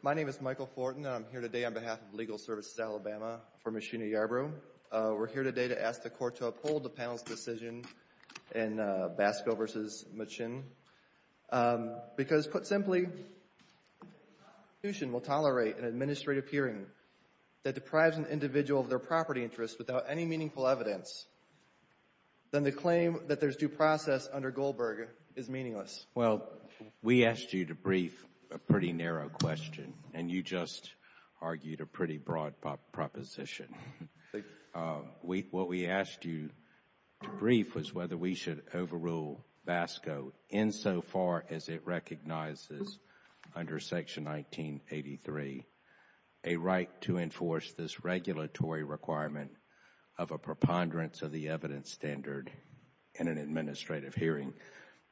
My name is Michael Fortin, and I'm here today on behalf of Legal Services Alabama for Ms. Sheena Yarbrough. We're here today to ask the Court to uphold the panel's decision in Basco v. McShinn, because put simply, if an institution will tolerate an administrative hearing that deprives an individual of their property interests without any meaningful evidence, then the claim that there's due process under Goldberg is meaningless. Well, we asked you to brief a pretty narrow question, and you just argued a pretty broad proposition. What we asked you to brief was whether we should overrule Basco insofar as it recognizes under Section 1983, a right to enforce this regulatory requirement of a preponderance of the evidence standard in an administrative hearing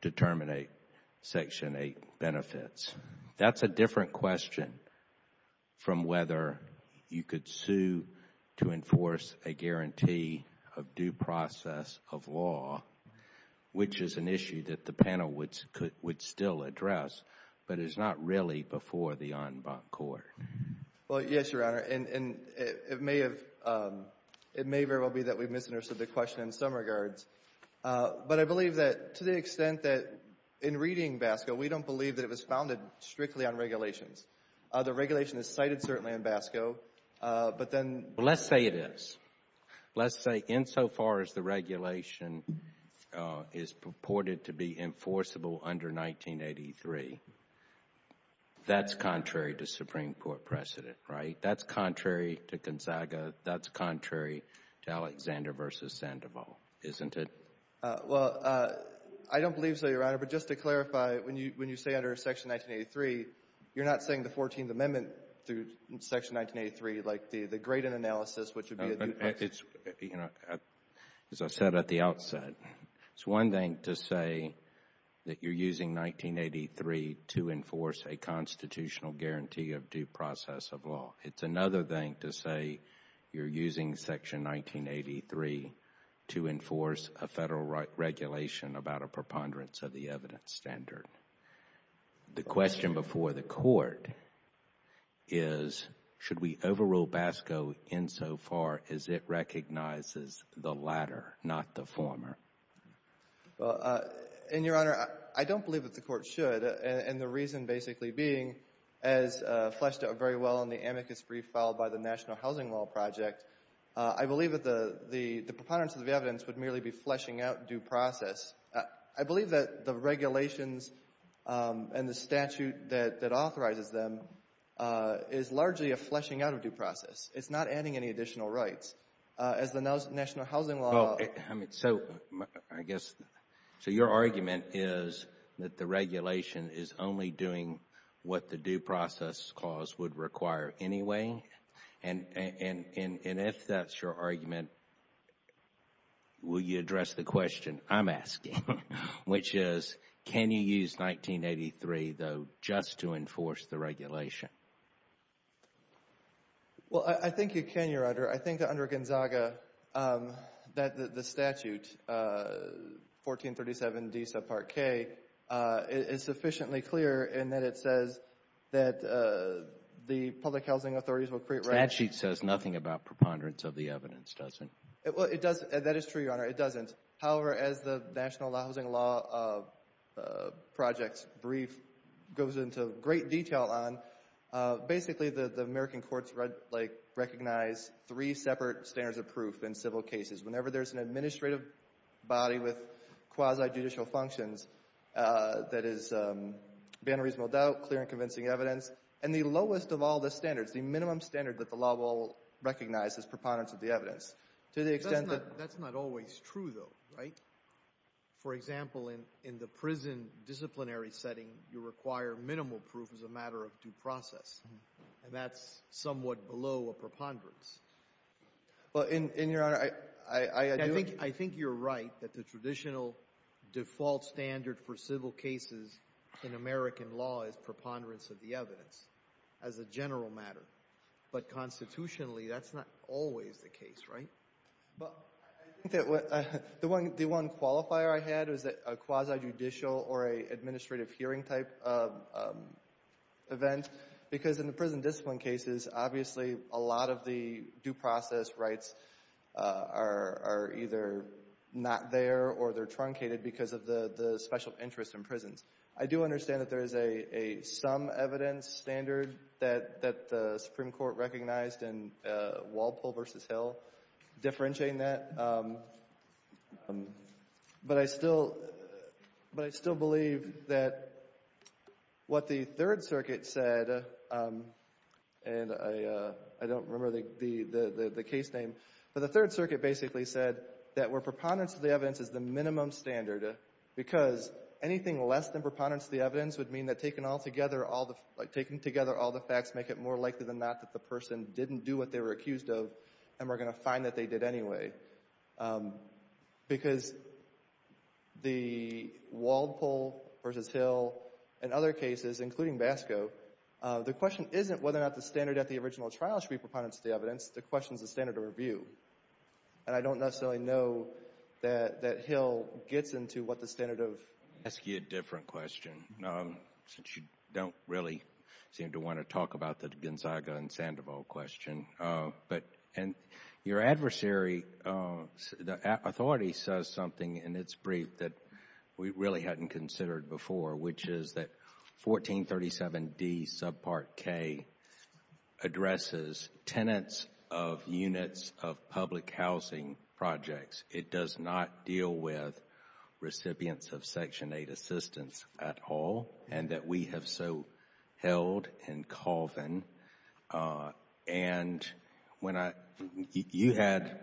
to terminate Section 8 benefits. That's a different question from whether you could sue to enforce a guarantee of due process of law, which is an issue that the panel would still address, but is not really before the en banc court. Well, yes, Your Honor, and it may very well be that we've misunderstood the question in some regards. But I believe that to the extent that in reading Basco, we don't believe that it was founded strictly on regulations. The regulation is cited certainly in Basco, but then... Because the regulation is purported to be enforceable under 1983, that's contrary to Supreme Court precedent, right? That's contrary to Gonzaga. That's contrary to Alexander v. Sandoval, isn't it? Well, I don't believe so, Your Honor, but just to clarify, when you say under Section 1983, you're not saying the 14th Amendment through Section 1983, like the Graydon analysis, which would be a due process... Well, Your Honor, as I said at the outset, it's one thing to say that you're using 1983 to enforce a constitutional guarantee of due process of law. It's another thing to say you're using Section 1983 to enforce a federal regulation about a preponderance of the evidence standard. The question before the Court is, should we overrule Basco insofar as it recognizes the latter, not the former? Well, and Your Honor, I don't believe that the Court should, and the reason basically being, as fleshed out very well in the amicus brief filed by the National Housing Law Project, I believe that the preponderance of the evidence would merely be fleshing out due process. I believe that the regulations and the statute that authorizes them is largely a fleshing out of due process. It's not adding any additional rights. As the National Housing Law... Well, I mean, so, I guess, so your argument is that the regulation is only doing what the due process clause would require anyway, and if that's your argument, will you address the question I'm asking, which is, can you use 1983, though, just to enforce the regulation? Well, I think you can, Your Honor. I think that under Gonzaga, that the statute, 1437D subpart K, is sufficiently clear in that it says that the public housing authorities will create... Statute says nothing about preponderance of the evidence, does it? Well, it does. That is true, Your Honor. It doesn't. However, as the National Housing Law Project's brief goes into great detail on, basically, the American courts, like, recognize three separate standards of proof in civil cases. Whenever there's an administrative body with quasi-judicial functions, that is beyond reasonable doubt, clear and convincing evidence, and the lowest of all the standards, the minimum That's not always true, though, right? For example, in the prison disciplinary setting, you require minimal proof as a matter of due process, and that's somewhat below a preponderance. Well, and, Your Honor, I... I think you're right that the traditional default standard for civil cases in American law is preponderance of the evidence as a general matter, but constitutionally, that's not always the case, right? Well, I think that the one qualifier I had was a quasi-judicial or an administrative hearing type event, because in the prison discipline cases, obviously, a lot of the due process rights are either not there or they're truncated because of the special interest in prisons. I do understand that there is a sum evidence standard that the Supreme Court recognized in Walpole v. Hill differentiating that, but I still believe that what the Third Circuit said, and I don't remember the case name, but the Third Circuit basically said that where preponderance of the evidence is the minimum standard, because anything less than preponderance of the evidence would mean that taking altogether all the facts make it more difficult to do what they were accused of and we're going to find that they did anyway. Because the Walpole v. Hill and other cases, including BASCO, the question isn't whether or not the standard at the original trial should be preponderance of the evidence. The question is the standard of review, and I don't necessarily know that Hill gets into what the standard of... Let me ask you a different question, since you don't really seem to want to talk about the Gonzaga and Sandoval question. Your adversary, the authority, says something in its brief that we really hadn't considered before, which is that 1437D subpart K addresses tenants of units of public housing projects. It does not deal with recipients of Section 8 assistance at all, and that we have so held in Colvin, and you had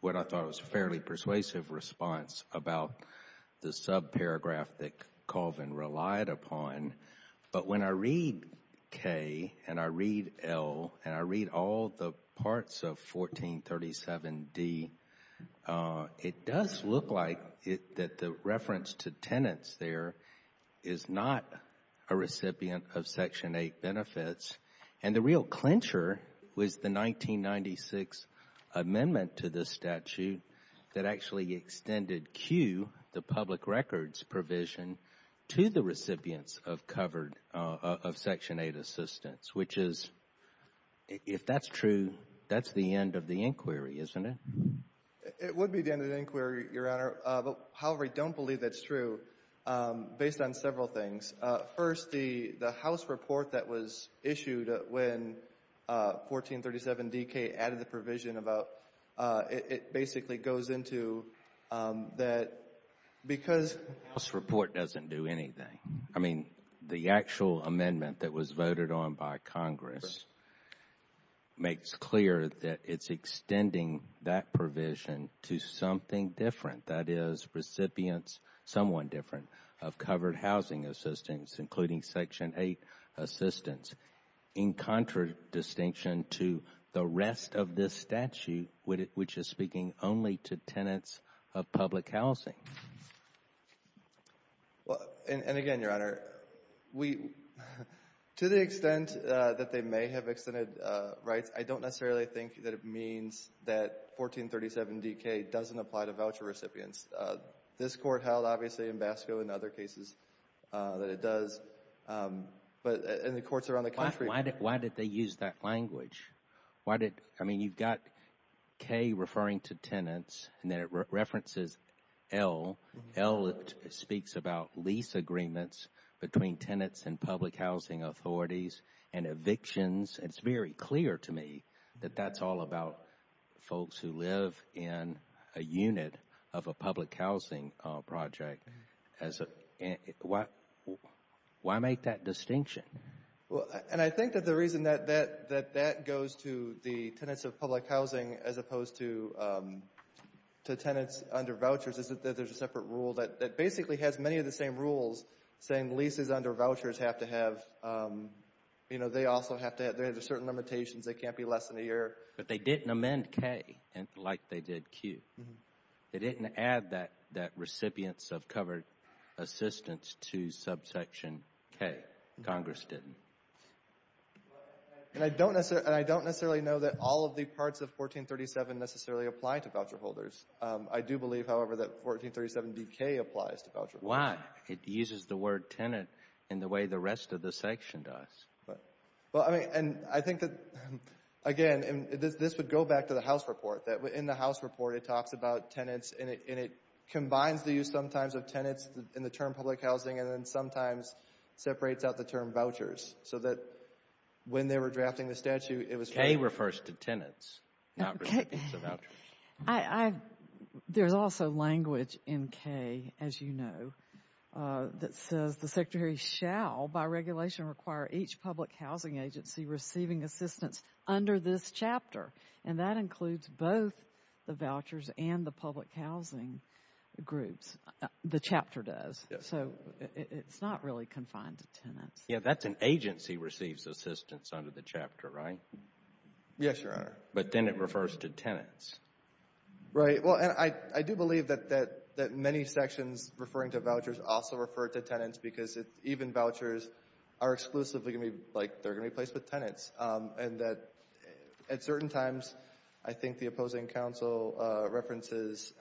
what I thought was a fairly persuasive response about the subparagraph that Colvin relied upon, but when I read K and I read L and I read all the parts of 1437D, it does look like that the reference to tenants there is not a recipient of Section 8 benefits and the real clincher was the 1996 amendment to this statute that actually extended Q, the public records provision, to the recipients of covered... of Section 8 assistance, which is, if that's true, that's the end of the inquiry, isn't it? It would be the end of the inquiry, Your Honor. However, I don't believe that's true, based on several things. First, the House report that was issued when 1437DK added the provision about... it basically goes into that because... The House report doesn't do anything. I mean, the actual amendment that was voted on by Congress makes clear that it's extending that provision to something different, that is, recipients, someone different, of covered housing assistance, including Section 8 assistance, in contradistinction to the rest of this statute, which is speaking only to tenants of public housing. Well, and again, Your Honor, to the extent that they may have extended rights, I don't necessarily think that it means that 1437DK doesn't apply to voucher recipients. This Court held, obviously, in Basco and other cases, that it does. But in the courts around the country... Why did they use that language? Why did... I mean, you've got K referring to tenants, and then it references L. L speaks about lease agreements between tenants and public housing authorities, and evictions. It's very clear to me that that's all about folks who live in a unit of a public housing project. Why make that distinction? And I think that the reason that that goes to the tenants of public housing as opposed to tenants under vouchers is that there's a separate rule that basically has many of the same rules, saying leases under vouchers have to have... you know, they also have to have... there are certain limitations. They can't be less than a year. But they didn't amend K like they did Q. They didn't add that recipients of covered assistance to subsection K. Congress didn't. And I don't necessarily know that all of the parts of 1437 necessarily apply to voucher holders. I do believe, however, that 1437DK applies to voucher holders. Why? It uses the word tenant in the way the rest of the section does. Well, I mean, and I think that, again, this would go back to the House report, that in the House report it talks about tenants, and it combines the use sometimes of tenants in the term public housing, and then sometimes separates out the term vouchers, so that when they were drafting the statute, it was... K refers to tenants, not recipients of vouchers. I... there's also language in K, as you know, that says the Secretary shall by regulation require each public housing agency receiving assistance under this chapter, and that includes both the vouchers and the public housing groups. The chapter does, so it's not really confined to tenants. Yeah, that's an agency receives assistance under the chapter, right? Yes, Your Honor. But then it refers to tenants. Right. Well, and I do believe that many sections referring to vouchers also refer to tenants because even vouchers are exclusively going to be, like, they're going to be placed with tenants, and that at certain times, I think the opposing counsel references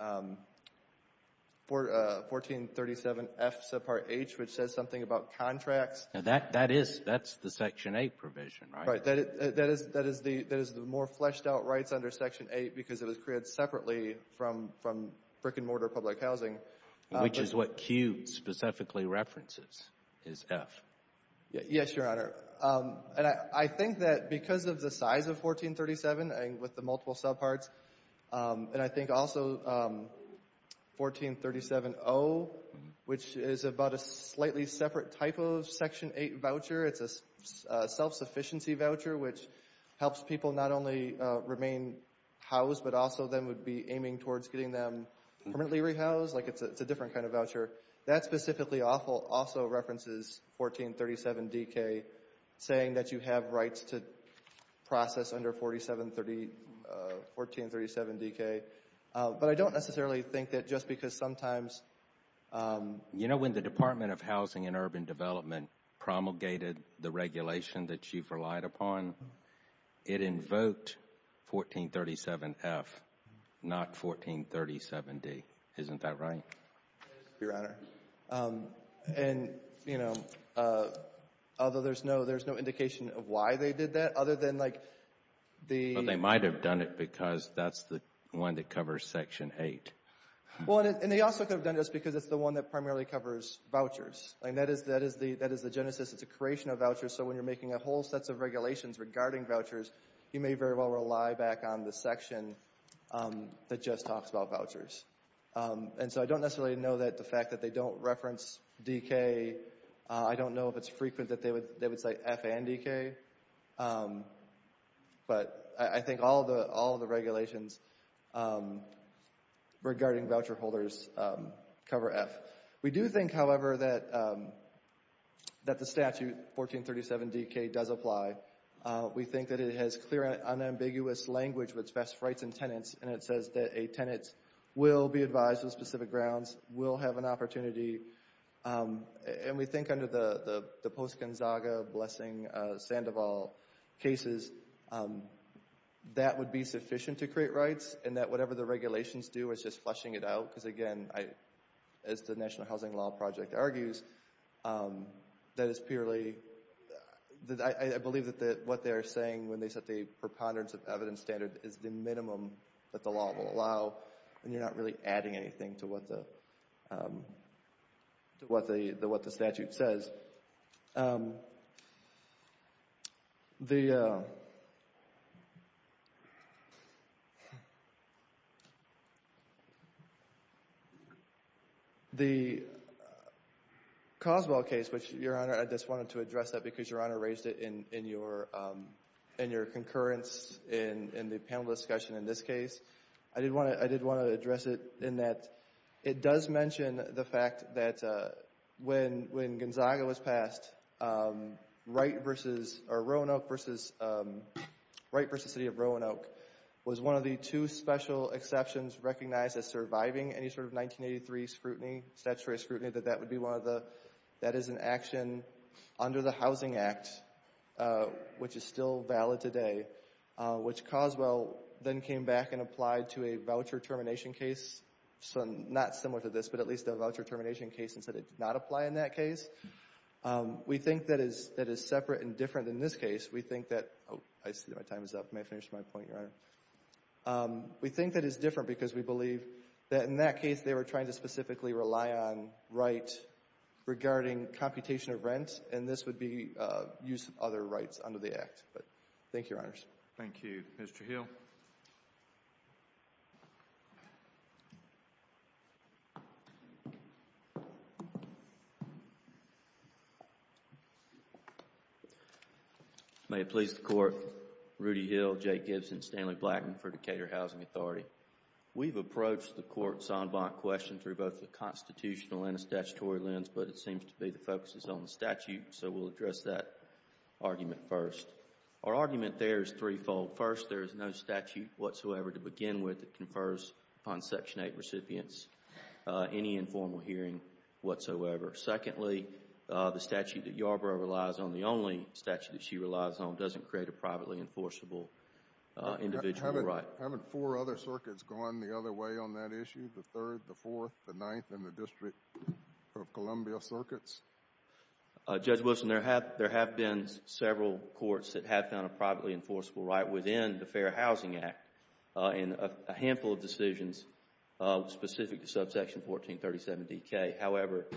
1437F subpart H, which says something about contracts. That is, that's the Section 8 provision, right? Right. That is the more fleshed-out rights under Section 8 because it was created separately from brick-and-mortar public housing. Which is what Q specifically references, is F. Yes, Your Honor. And I think that because of the size of 1437 and with the multiple subparts, and I think also 1437O, which is about a slightly separate type of Section 8 voucher, it's a self-sufficiency voucher, which helps people not only remain housed, but also then would be aiming towards getting them permanently rehoused, like it's a different kind of voucher. That specifically also references 1437DK, saying that you have rights to process under 1437DK, but I don't necessarily think that just because sometimes— You know, when the Department of Housing and Urban Development promulgated the regulation that you've relied upon, it invoked 1437F, not 1437D. Isn't that right? Yes, Your Honor. And, you know, although there's no indication of why they did that other than like the— Well, they might have done it because that's the one that covers Section 8. Well, and they also could have done this because it's the one that primarily covers vouchers. That is the genesis. It's a creation of vouchers. So when you're making a whole set of regulations regarding vouchers, you may very well rely back on the section that just talks about vouchers. And so I don't necessarily know that the fact that they don't reference DK, I don't know if it's frequent that they would say F and DK, but I think all the regulations regarding voucher holders cover F. We do think, however, that the statute, 1437DK, does apply. We think that it has clear and unambiguous language with respect to rights and tenants, and it says that a tenant will be advised on specific grounds, will have an opportunity. And we think under the Post-Gonzaga, Blessing, Sandoval cases, that would be sufficient to create rights, and that whatever the regulations do is just flushing it out. Because again, as the National Housing Law Project argues, that is purely, I believe that what they are saying when they set the preponderance of evidence standard is the minimum that the law will allow, and you're not really adding anything to what the statute says. But the Coswell case, which, Your Honor, I just wanted to address that because Your Honor raised it in your concurrence in the panel discussion in this case. I did want to address it in that it does mention the fact that when Gonzaga was passed, Wright versus, or Roanoke versus, Wright versus City of Roanoke was one of the two special exceptions recognized as surviving any sort of 1983 scrutiny, statutory scrutiny, that that is an action under the Housing Act, which is still valid today, which Coswell then came back and applied to a voucher termination case, not similar to this, but at least a voucher termination case and said it did not apply in that case. We think that is separate and different in this case. We think that, oh, I see my time is up. May I finish my point, Your Honor? We think that is different because we believe that in that case they were trying to specifically rely on Wright regarding computation of rent, and this would be use of other rights under the Act. Thank you, Your Honors. Thank you. Mr. Hill. May it please the Court. Rudy Hill, Jay Gibson, Stanley Blackman for Decatur Housing Authority. We have approached the Court's en banc question through both the constitutional and the statutory lens, but it seems to be the focus is on the statute, so we will address that argument first. Our argument there is threefold. First, there is no statute whatsoever to begin with that confers upon Section 8 recipients any informal hearing whatsoever. Secondly, the statute that Yarbrough relies on, the only statute that she relies on, doesn't create a privately enforceable individual right. Haven't four other circuits gone the other way on that issue, the 3rd, the 4th, the 9th, and the District of Columbia circuits? Judge Wilson, there have been several courts that have found a privately enforceable right within the Fair Housing Act in a handful of decisions specific to subsection 1437DK. However,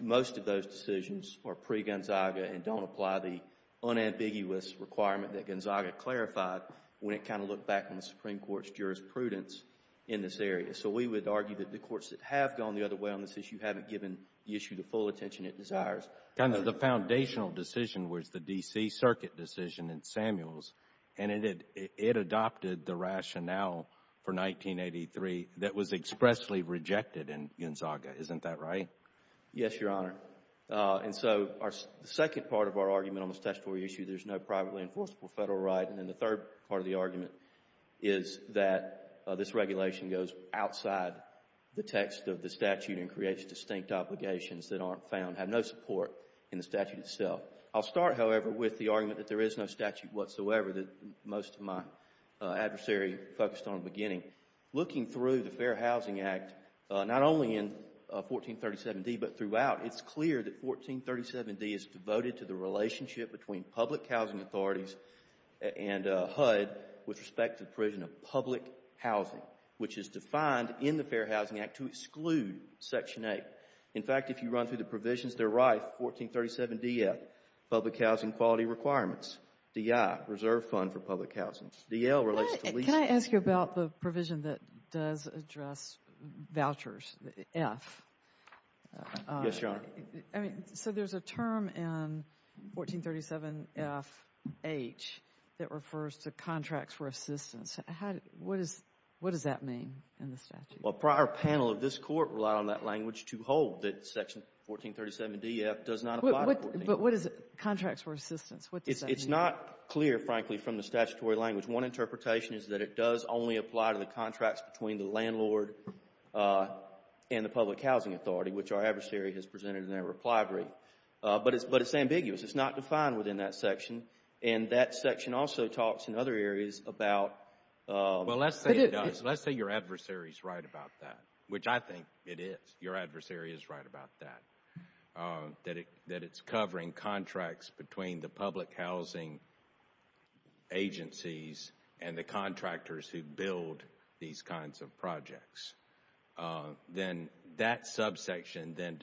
most of those decisions are pre-Gonzaga and don't apply the unambiguous requirement that in this area. So we would argue that the courts that have gone the other way on this issue haven't given the issue the full attention it desires. The foundational decision was the D.C. circuit decision in Samuels, and it adopted the rationale for 1983 that was expressly rejected in Gonzaga. Isn't that right? Yes, Your Honor. And so the second part of our argument on the statutory issue, there is no privately enforceable federal right. And then the third part of the argument is that this regulation goes outside the text of the statute and creates distinct obligations that aren't found, have no support in the statute itself. I'll start, however, with the argument that there is no statute whatsoever that most of my adversary focused on in the beginning. Looking through the Fair Housing Act, not only in 1437D, but throughout, it's clear that 1437D is devoted to the relationship between public housing authorities and HUD with respect to the provision of public housing, which is defined in the Fair Housing Act to exclude Section 8. In fact, if you run through the provisions, they're rife. 1437DF, public housing quality requirements. DI, reserve fund for public housing. DL relates to leasing. Can I ask you about the provision that does address vouchers, F? Yes, Your Honor. So there's a term in 1437FH that refers to contracts for assistance. What does that mean in the statute? Well, a prior panel of this Court relied on that language to hold that Section 1437DF does not apply. But what does contracts for assistance, what does that mean? It's not clear, frankly, from the statutory language. One interpretation is that it does only apply to the contracts between the landlord and the public housing authority, which our adversary has presented in their reply brief. But it's ambiguous. It's not clear. Well, let's say it does. Let's say your adversary is right about that, which I think it is. Your adversary is right about that, that it's covering contracts between the public housing agencies and the contractors who build these kinds of projects. Then that subsection then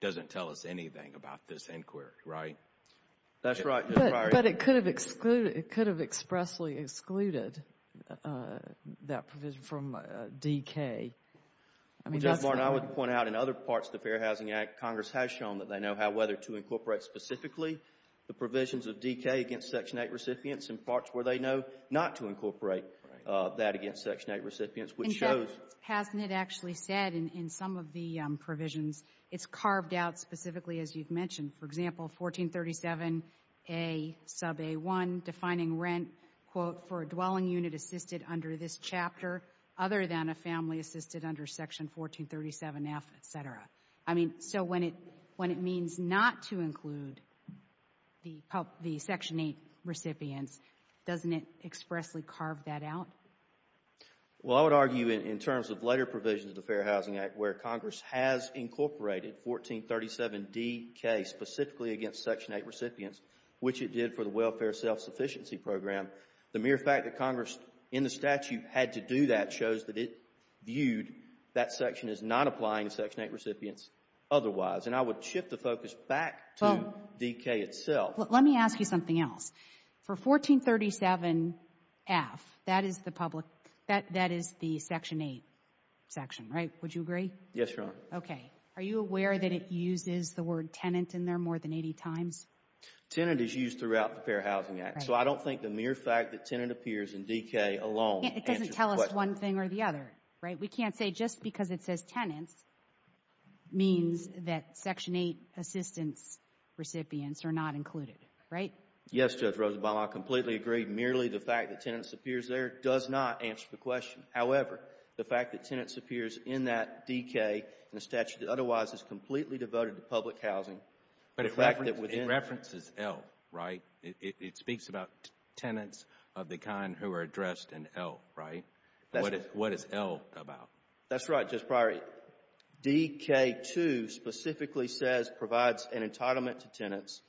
doesn't tell us anything about this inquiry, right? That's right. But it could have expressly excluded that provision from DK. Well, Judge Barton, I would point out in other parts of the Fair Housing Act, Congress has shown that they know how, whether to incorporate specifically the provisions of DK against Section 8 recipients and parts where they know not to incorporate that against Section 8 recipients, which shows In fact, hasn't it actually said in some of the provisions, it's carved out specifically, as you've mentioned, for example, 1437A sub A1 defining rent, quote, for a dwelling unit assisted under this chapter other than a family assisted under Section 1437F, et cetera. I mean, so when it means not to include the Section 8 recipients, doesn't it expressly carve that out? Well, I would argue in terms of later provisions of the Fair Housing Act where Congress has incorporated 1437DK specifically against Section 8 recipients, which it did for the Welfare Self-Sufficiency Program, the mere fact that Congress in the statute had to do that shows that it viewed that section as not applying to Section 8 recipients otherwise. And I would shift the focus back to DK itself. Let me ask you something else. For 1437F, that is the public that is the Section 8 section, right? Would you agree? Yes, Your Honor. Okay. Are you aware that it uses the word tenant in there more than 80 times? Tenant is used throughout the Fair Housing Act, so I don't think the mere fact that tenant appears in DK alone answers the question. It doesn't tell us one thing or the other, right? We can't say just because it says tenants means that Section 8 assistance recipients are not included, right? Yes, Judge Rosenbaum. I completely agree. Merely the fact that tenants appears there does not answer the question. However, the fact that tenants appears in that DK in a statute that otherwise is completely devoted to public housing, the fact that within Reference is L, right? It speaks about tenants of the kind who are addressed in L, right? What is L about? That's right, Justice Breyer. DK2 specifically says provides an entitlement to tenants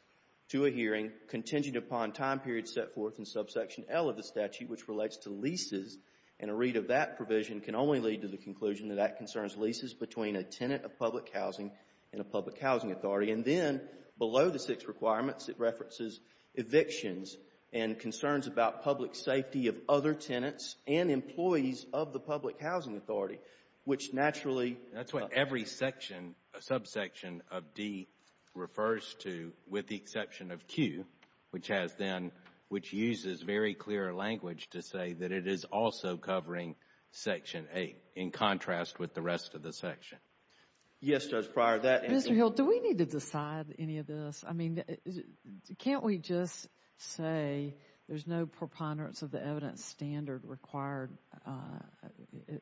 to a hearing contingent upon time period set forth in subsection L of the statute, which relates to leases, and a read of that provision can only lead to the conclusion that that concerns leases between a tenant of public housing and a public housing authority. And then below the six requirements, it references evictions and concerns about public safety of other tenants and employees of the public housing authority, which naturally That's what every section, a subsection of D refers to, with the exception of Q, which has then, which uses very clear language to say that it is also covering Section 8 in contrast with the rest of the section. Yes, Judge Breyer, that Mr. Hill, do we need to decide any of this? I mean, can't we just say there's no preponderance of the evidence standard required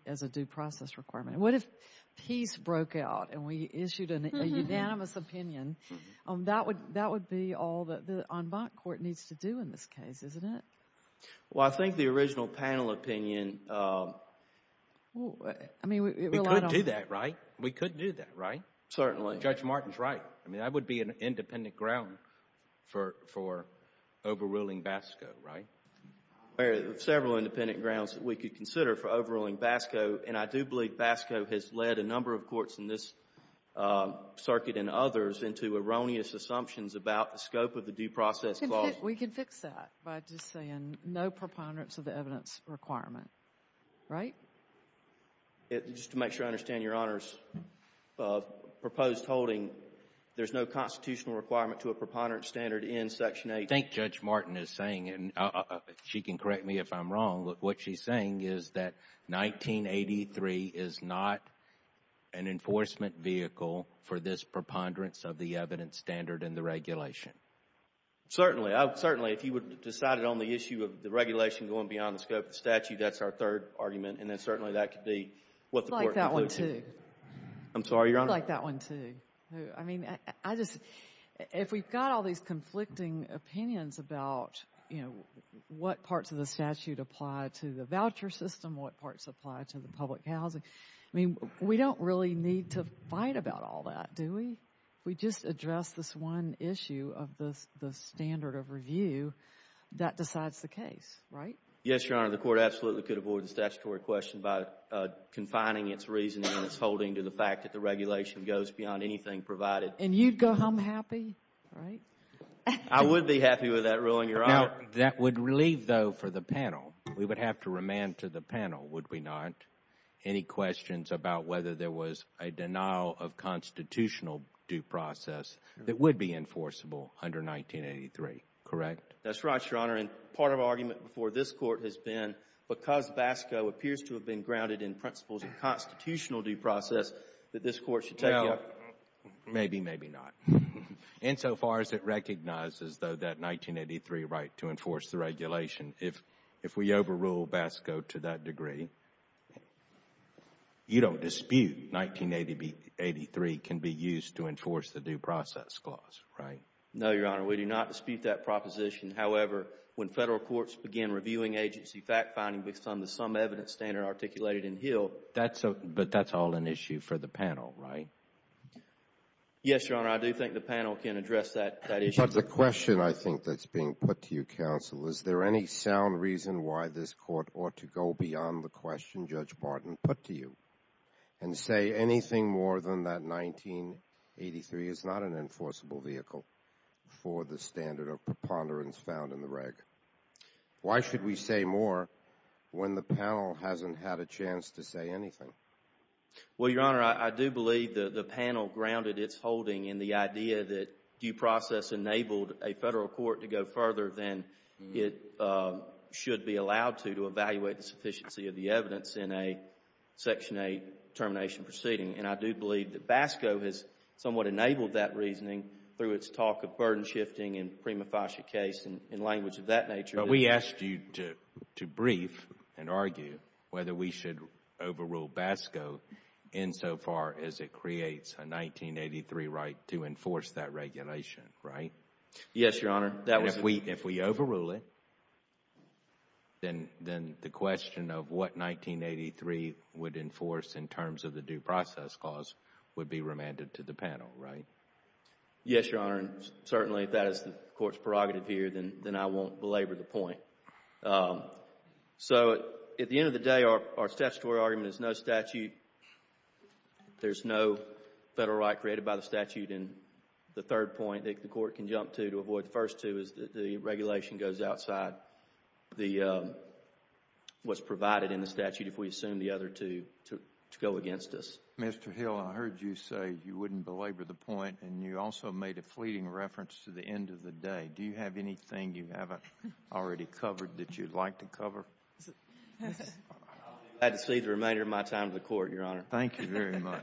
as a due process requirement? What if peace needs to do in this case, isn't it? Well, I think the original panel opinion We could do that, right? We could do that, right? Certainly. Judge Martin's right. I mean, that would be an independent ground for overruling BASCO, right? There are several independent grounds that we could consider for overruling BASCO, and I do believe BASCO has led a number of courts in this circuit and others into erroneous assumptions about the scope of the due process clause. We can fix that by just saying no preponderance of the evidence requirement, right? Just to make sure I understand Your Honor's proposed holding, there's no constitutional requirement to a preponderance standard in Section 8. I think Judge Martin is saying, and she can correct me if I'm wrong, but what she's saying is that 1983 is not an enforcement vehicle for this preponderance of the evidence standard in the regulation. Certainly. Certainly. If you would decide it on the issue of the regulation going beyond the scope of the statute, that's our third argument. And then certainly that could be what the court concludes here. I'd like that one, too. I'm sorry, Your Honor? I'd like that one, too. I mean, I just, if we've got all these conflicting opinions about, you know, what parts of the statute apply to the voucher system, what parts apply to the public housing, I mean, we don't really need to fight about all that, do we? If we just address this one issue of the standard of review, that decides the case, right? Yes, Your Honor. The court absolutely could avoid the statutory question by confining its reasoning and its holding to the fact that the regulation goes beyond anything provided. And you'd go home happy, right? I would be happy with that ruling, Your Honor. Now, that would leave, though, for the panel. We would have to remand to the panel, would we not? Any questions about whether there was a denial of constitutional due process that would be enforceable under 1983, correct? That's right, Your Honor. And part of our argument before this Court has been, because BASCO appears to have been grounded in principles of constitutional due process, that this Court should take it up. Well, maybe, maybe not. Insofar as it recognizes, though, that 1983 right to enforce the regulation, if we overrule BASCO to that degree, you don't dispute 1983 can be used to enforce the due process clause, right? No, Your Honor. We do not dispute that proposition. However, when Federal courts begin reviewing agency fact-finding based on the sum evidence standard articulated in Hill, that's a, but that's all an issue for the panel, right? Yes, Your Honor, I do think the panel can address that issue. But the question, I think, that's being put to you, Counsel, is there any sound reason why this Court ought to go beyond the question Judge Martin put to you and say anything more than that 1983 is not an enforceable vehicle for the standard of preponderance found in the reg? Why should we say more when the panel hasn't had a chance to say anything? Well, Your Honor, I do believe the panel grounded its holding in the idea that due process enabled a Federal court to go further than it should be allowed to, to evaluate the sufficiency of the evidence in a Section 8 termination proceeding. And I do believe that BASCO has somewhat enabled that reasoning through its talk of burden shifting and prima facie case and language of that nature. We asked you to brief and argue whether we should overrule BASCO insofar as it creates a 1983 right to enforce that regulation, right? Yes, Your Honor. If we overrule it, then the question of what 1983 would enforce in terms of the due process clause would be remanded to the panel, right? Yes, Your Honor, and certainly if that is the Court's prerogative here, then I won't belabor the point. So at the end of the day, our statutory argument is no statute. There's no Federal right created by the statute. And the third point that the Court can jump to to avoid the first two is that the regulation goes outside what's provided in the statute if we assume the other two to go against us. Mr. Hill, I heard you say you wouldn't belabor the point, and you also made a fleeting reference to the end of the day. Do you have anything you haven't already covered that you'd like to cover? I'll leave the remainder of my time to the Court, Your Honor. Thank you very much.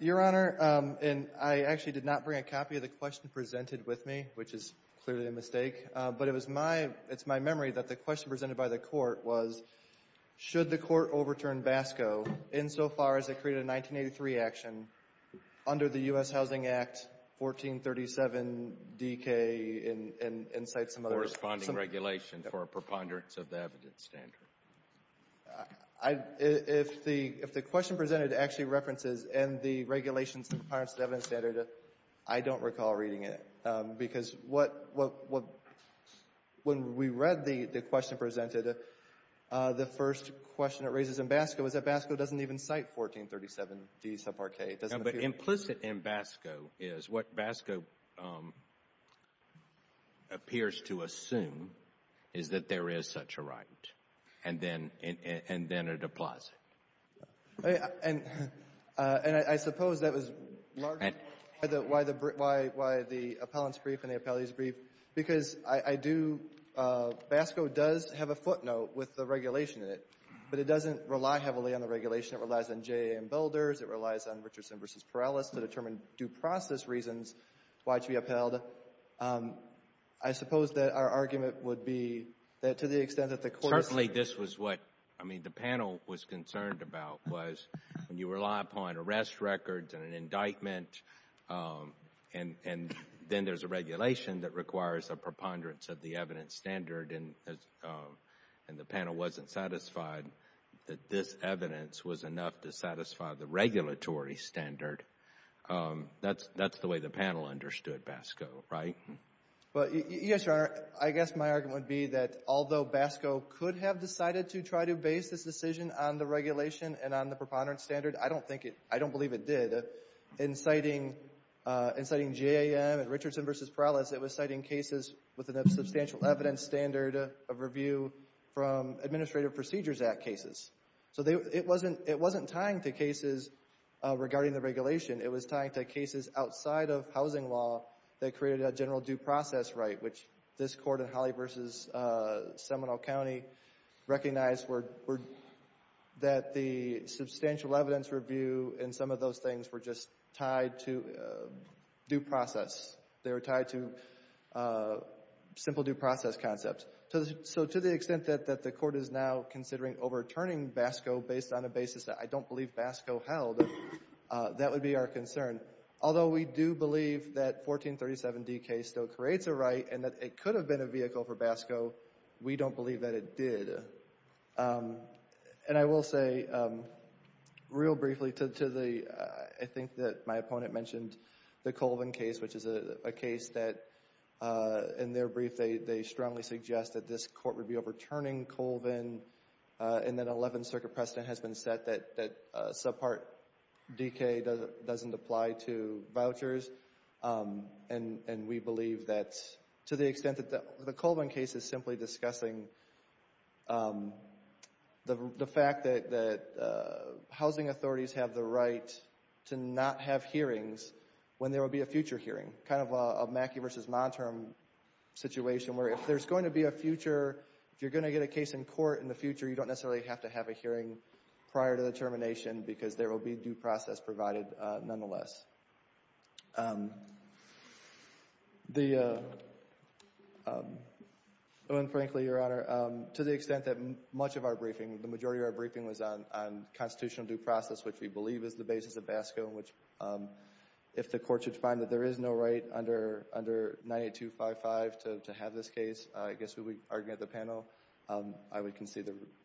Your Honor, I actually did not bring a copy of the question presented with me, which is clearly a mistake. But it's my memory that the question presented by the Court was, should the Court overturn BASCO insofar as it created a 1983 action under the U.S. Housing Act, 1437DK and cite some other... Corresponding regulation for a preponderance of the evidence standard. If the question presented actually references and the regulations and preponderance of the When we read the question presented, the first question it raises in BASCO is that BASCO doesn't even cite 1437D subpart K. No, but implicit in BASCO is what BASCO appears to assume is that there is such a right. And then it applies it. And I suppose that was largely why the appellant's brief and the appellee's brief. Because I do... BASCO does have a footnote with the regulation in it, but it doesn't rely heavily on the regulation. It relies on J.A. and Belders. It relies on Richardson v. Perales to determine due process reasons why it should be upheld. I suppose that our argument would be that to the extent that the Court... Certainly, this was what, I mean, the panel was concerned about was when you rely upon requires a preponderance of the evidence standard and the panel wasn't satisfied that this evidence was enough to satisfy the regulatory standard, that's the way the panel understood BASCO, right? Yes, Your Honor. I guess my argument would be that although BASCO could have decided to try to base this decision on the regulation and on the preponderance standard, I don't believe it did. In citing J.A. and Richardson v. Perales, it was citing cases with a substantial evidence standard of review from Administrative Procedures Act cases. So it wasn't tying to cases regarding the regulation. It was tying to cases outside of housing law that created a general due process right, which this Court in Holly v. Seminole County recognized that the substantial evidence review and some of those things were just tied to due process. They were tied to simple due process concepts. So to the extent that the Court is now considering overturning BASCO based on a basis that I don't believe BASCO held, that would be our concern. Although we do believe that 1437d case still creates a right and that it could have been a vehicle for BASCO, we don't believe that it did. And I will say real briefly to the, I think that my opponent mentioned the Colvin case, which is a case that in their brief they strongly suggest that this Court would be overturning Colvin and that 11th Circuit precedent has been set that subpart DK doesn't apply to vouchers. And we believe that to the extent that the Colvin case is simply discussing the fact that housing authorities have the right to not have hearings when there will be a future hearing, kind of a Mackey v. Monterm situation where if there's going to be a future, if you're going to get a case in court in the future, you don't necessarily have to have a hearing prior to the termination because there will be due process provided nonetheless. The, frankly, Your Honor, to the extent that much of our briefing, the majority of our briefing was on constitutional due process, which we believe is the basis of BASCO, which if the Court should find that there is no right under 98255 to have this case, I guess to argue at the panel, I would concede the remainder of my time.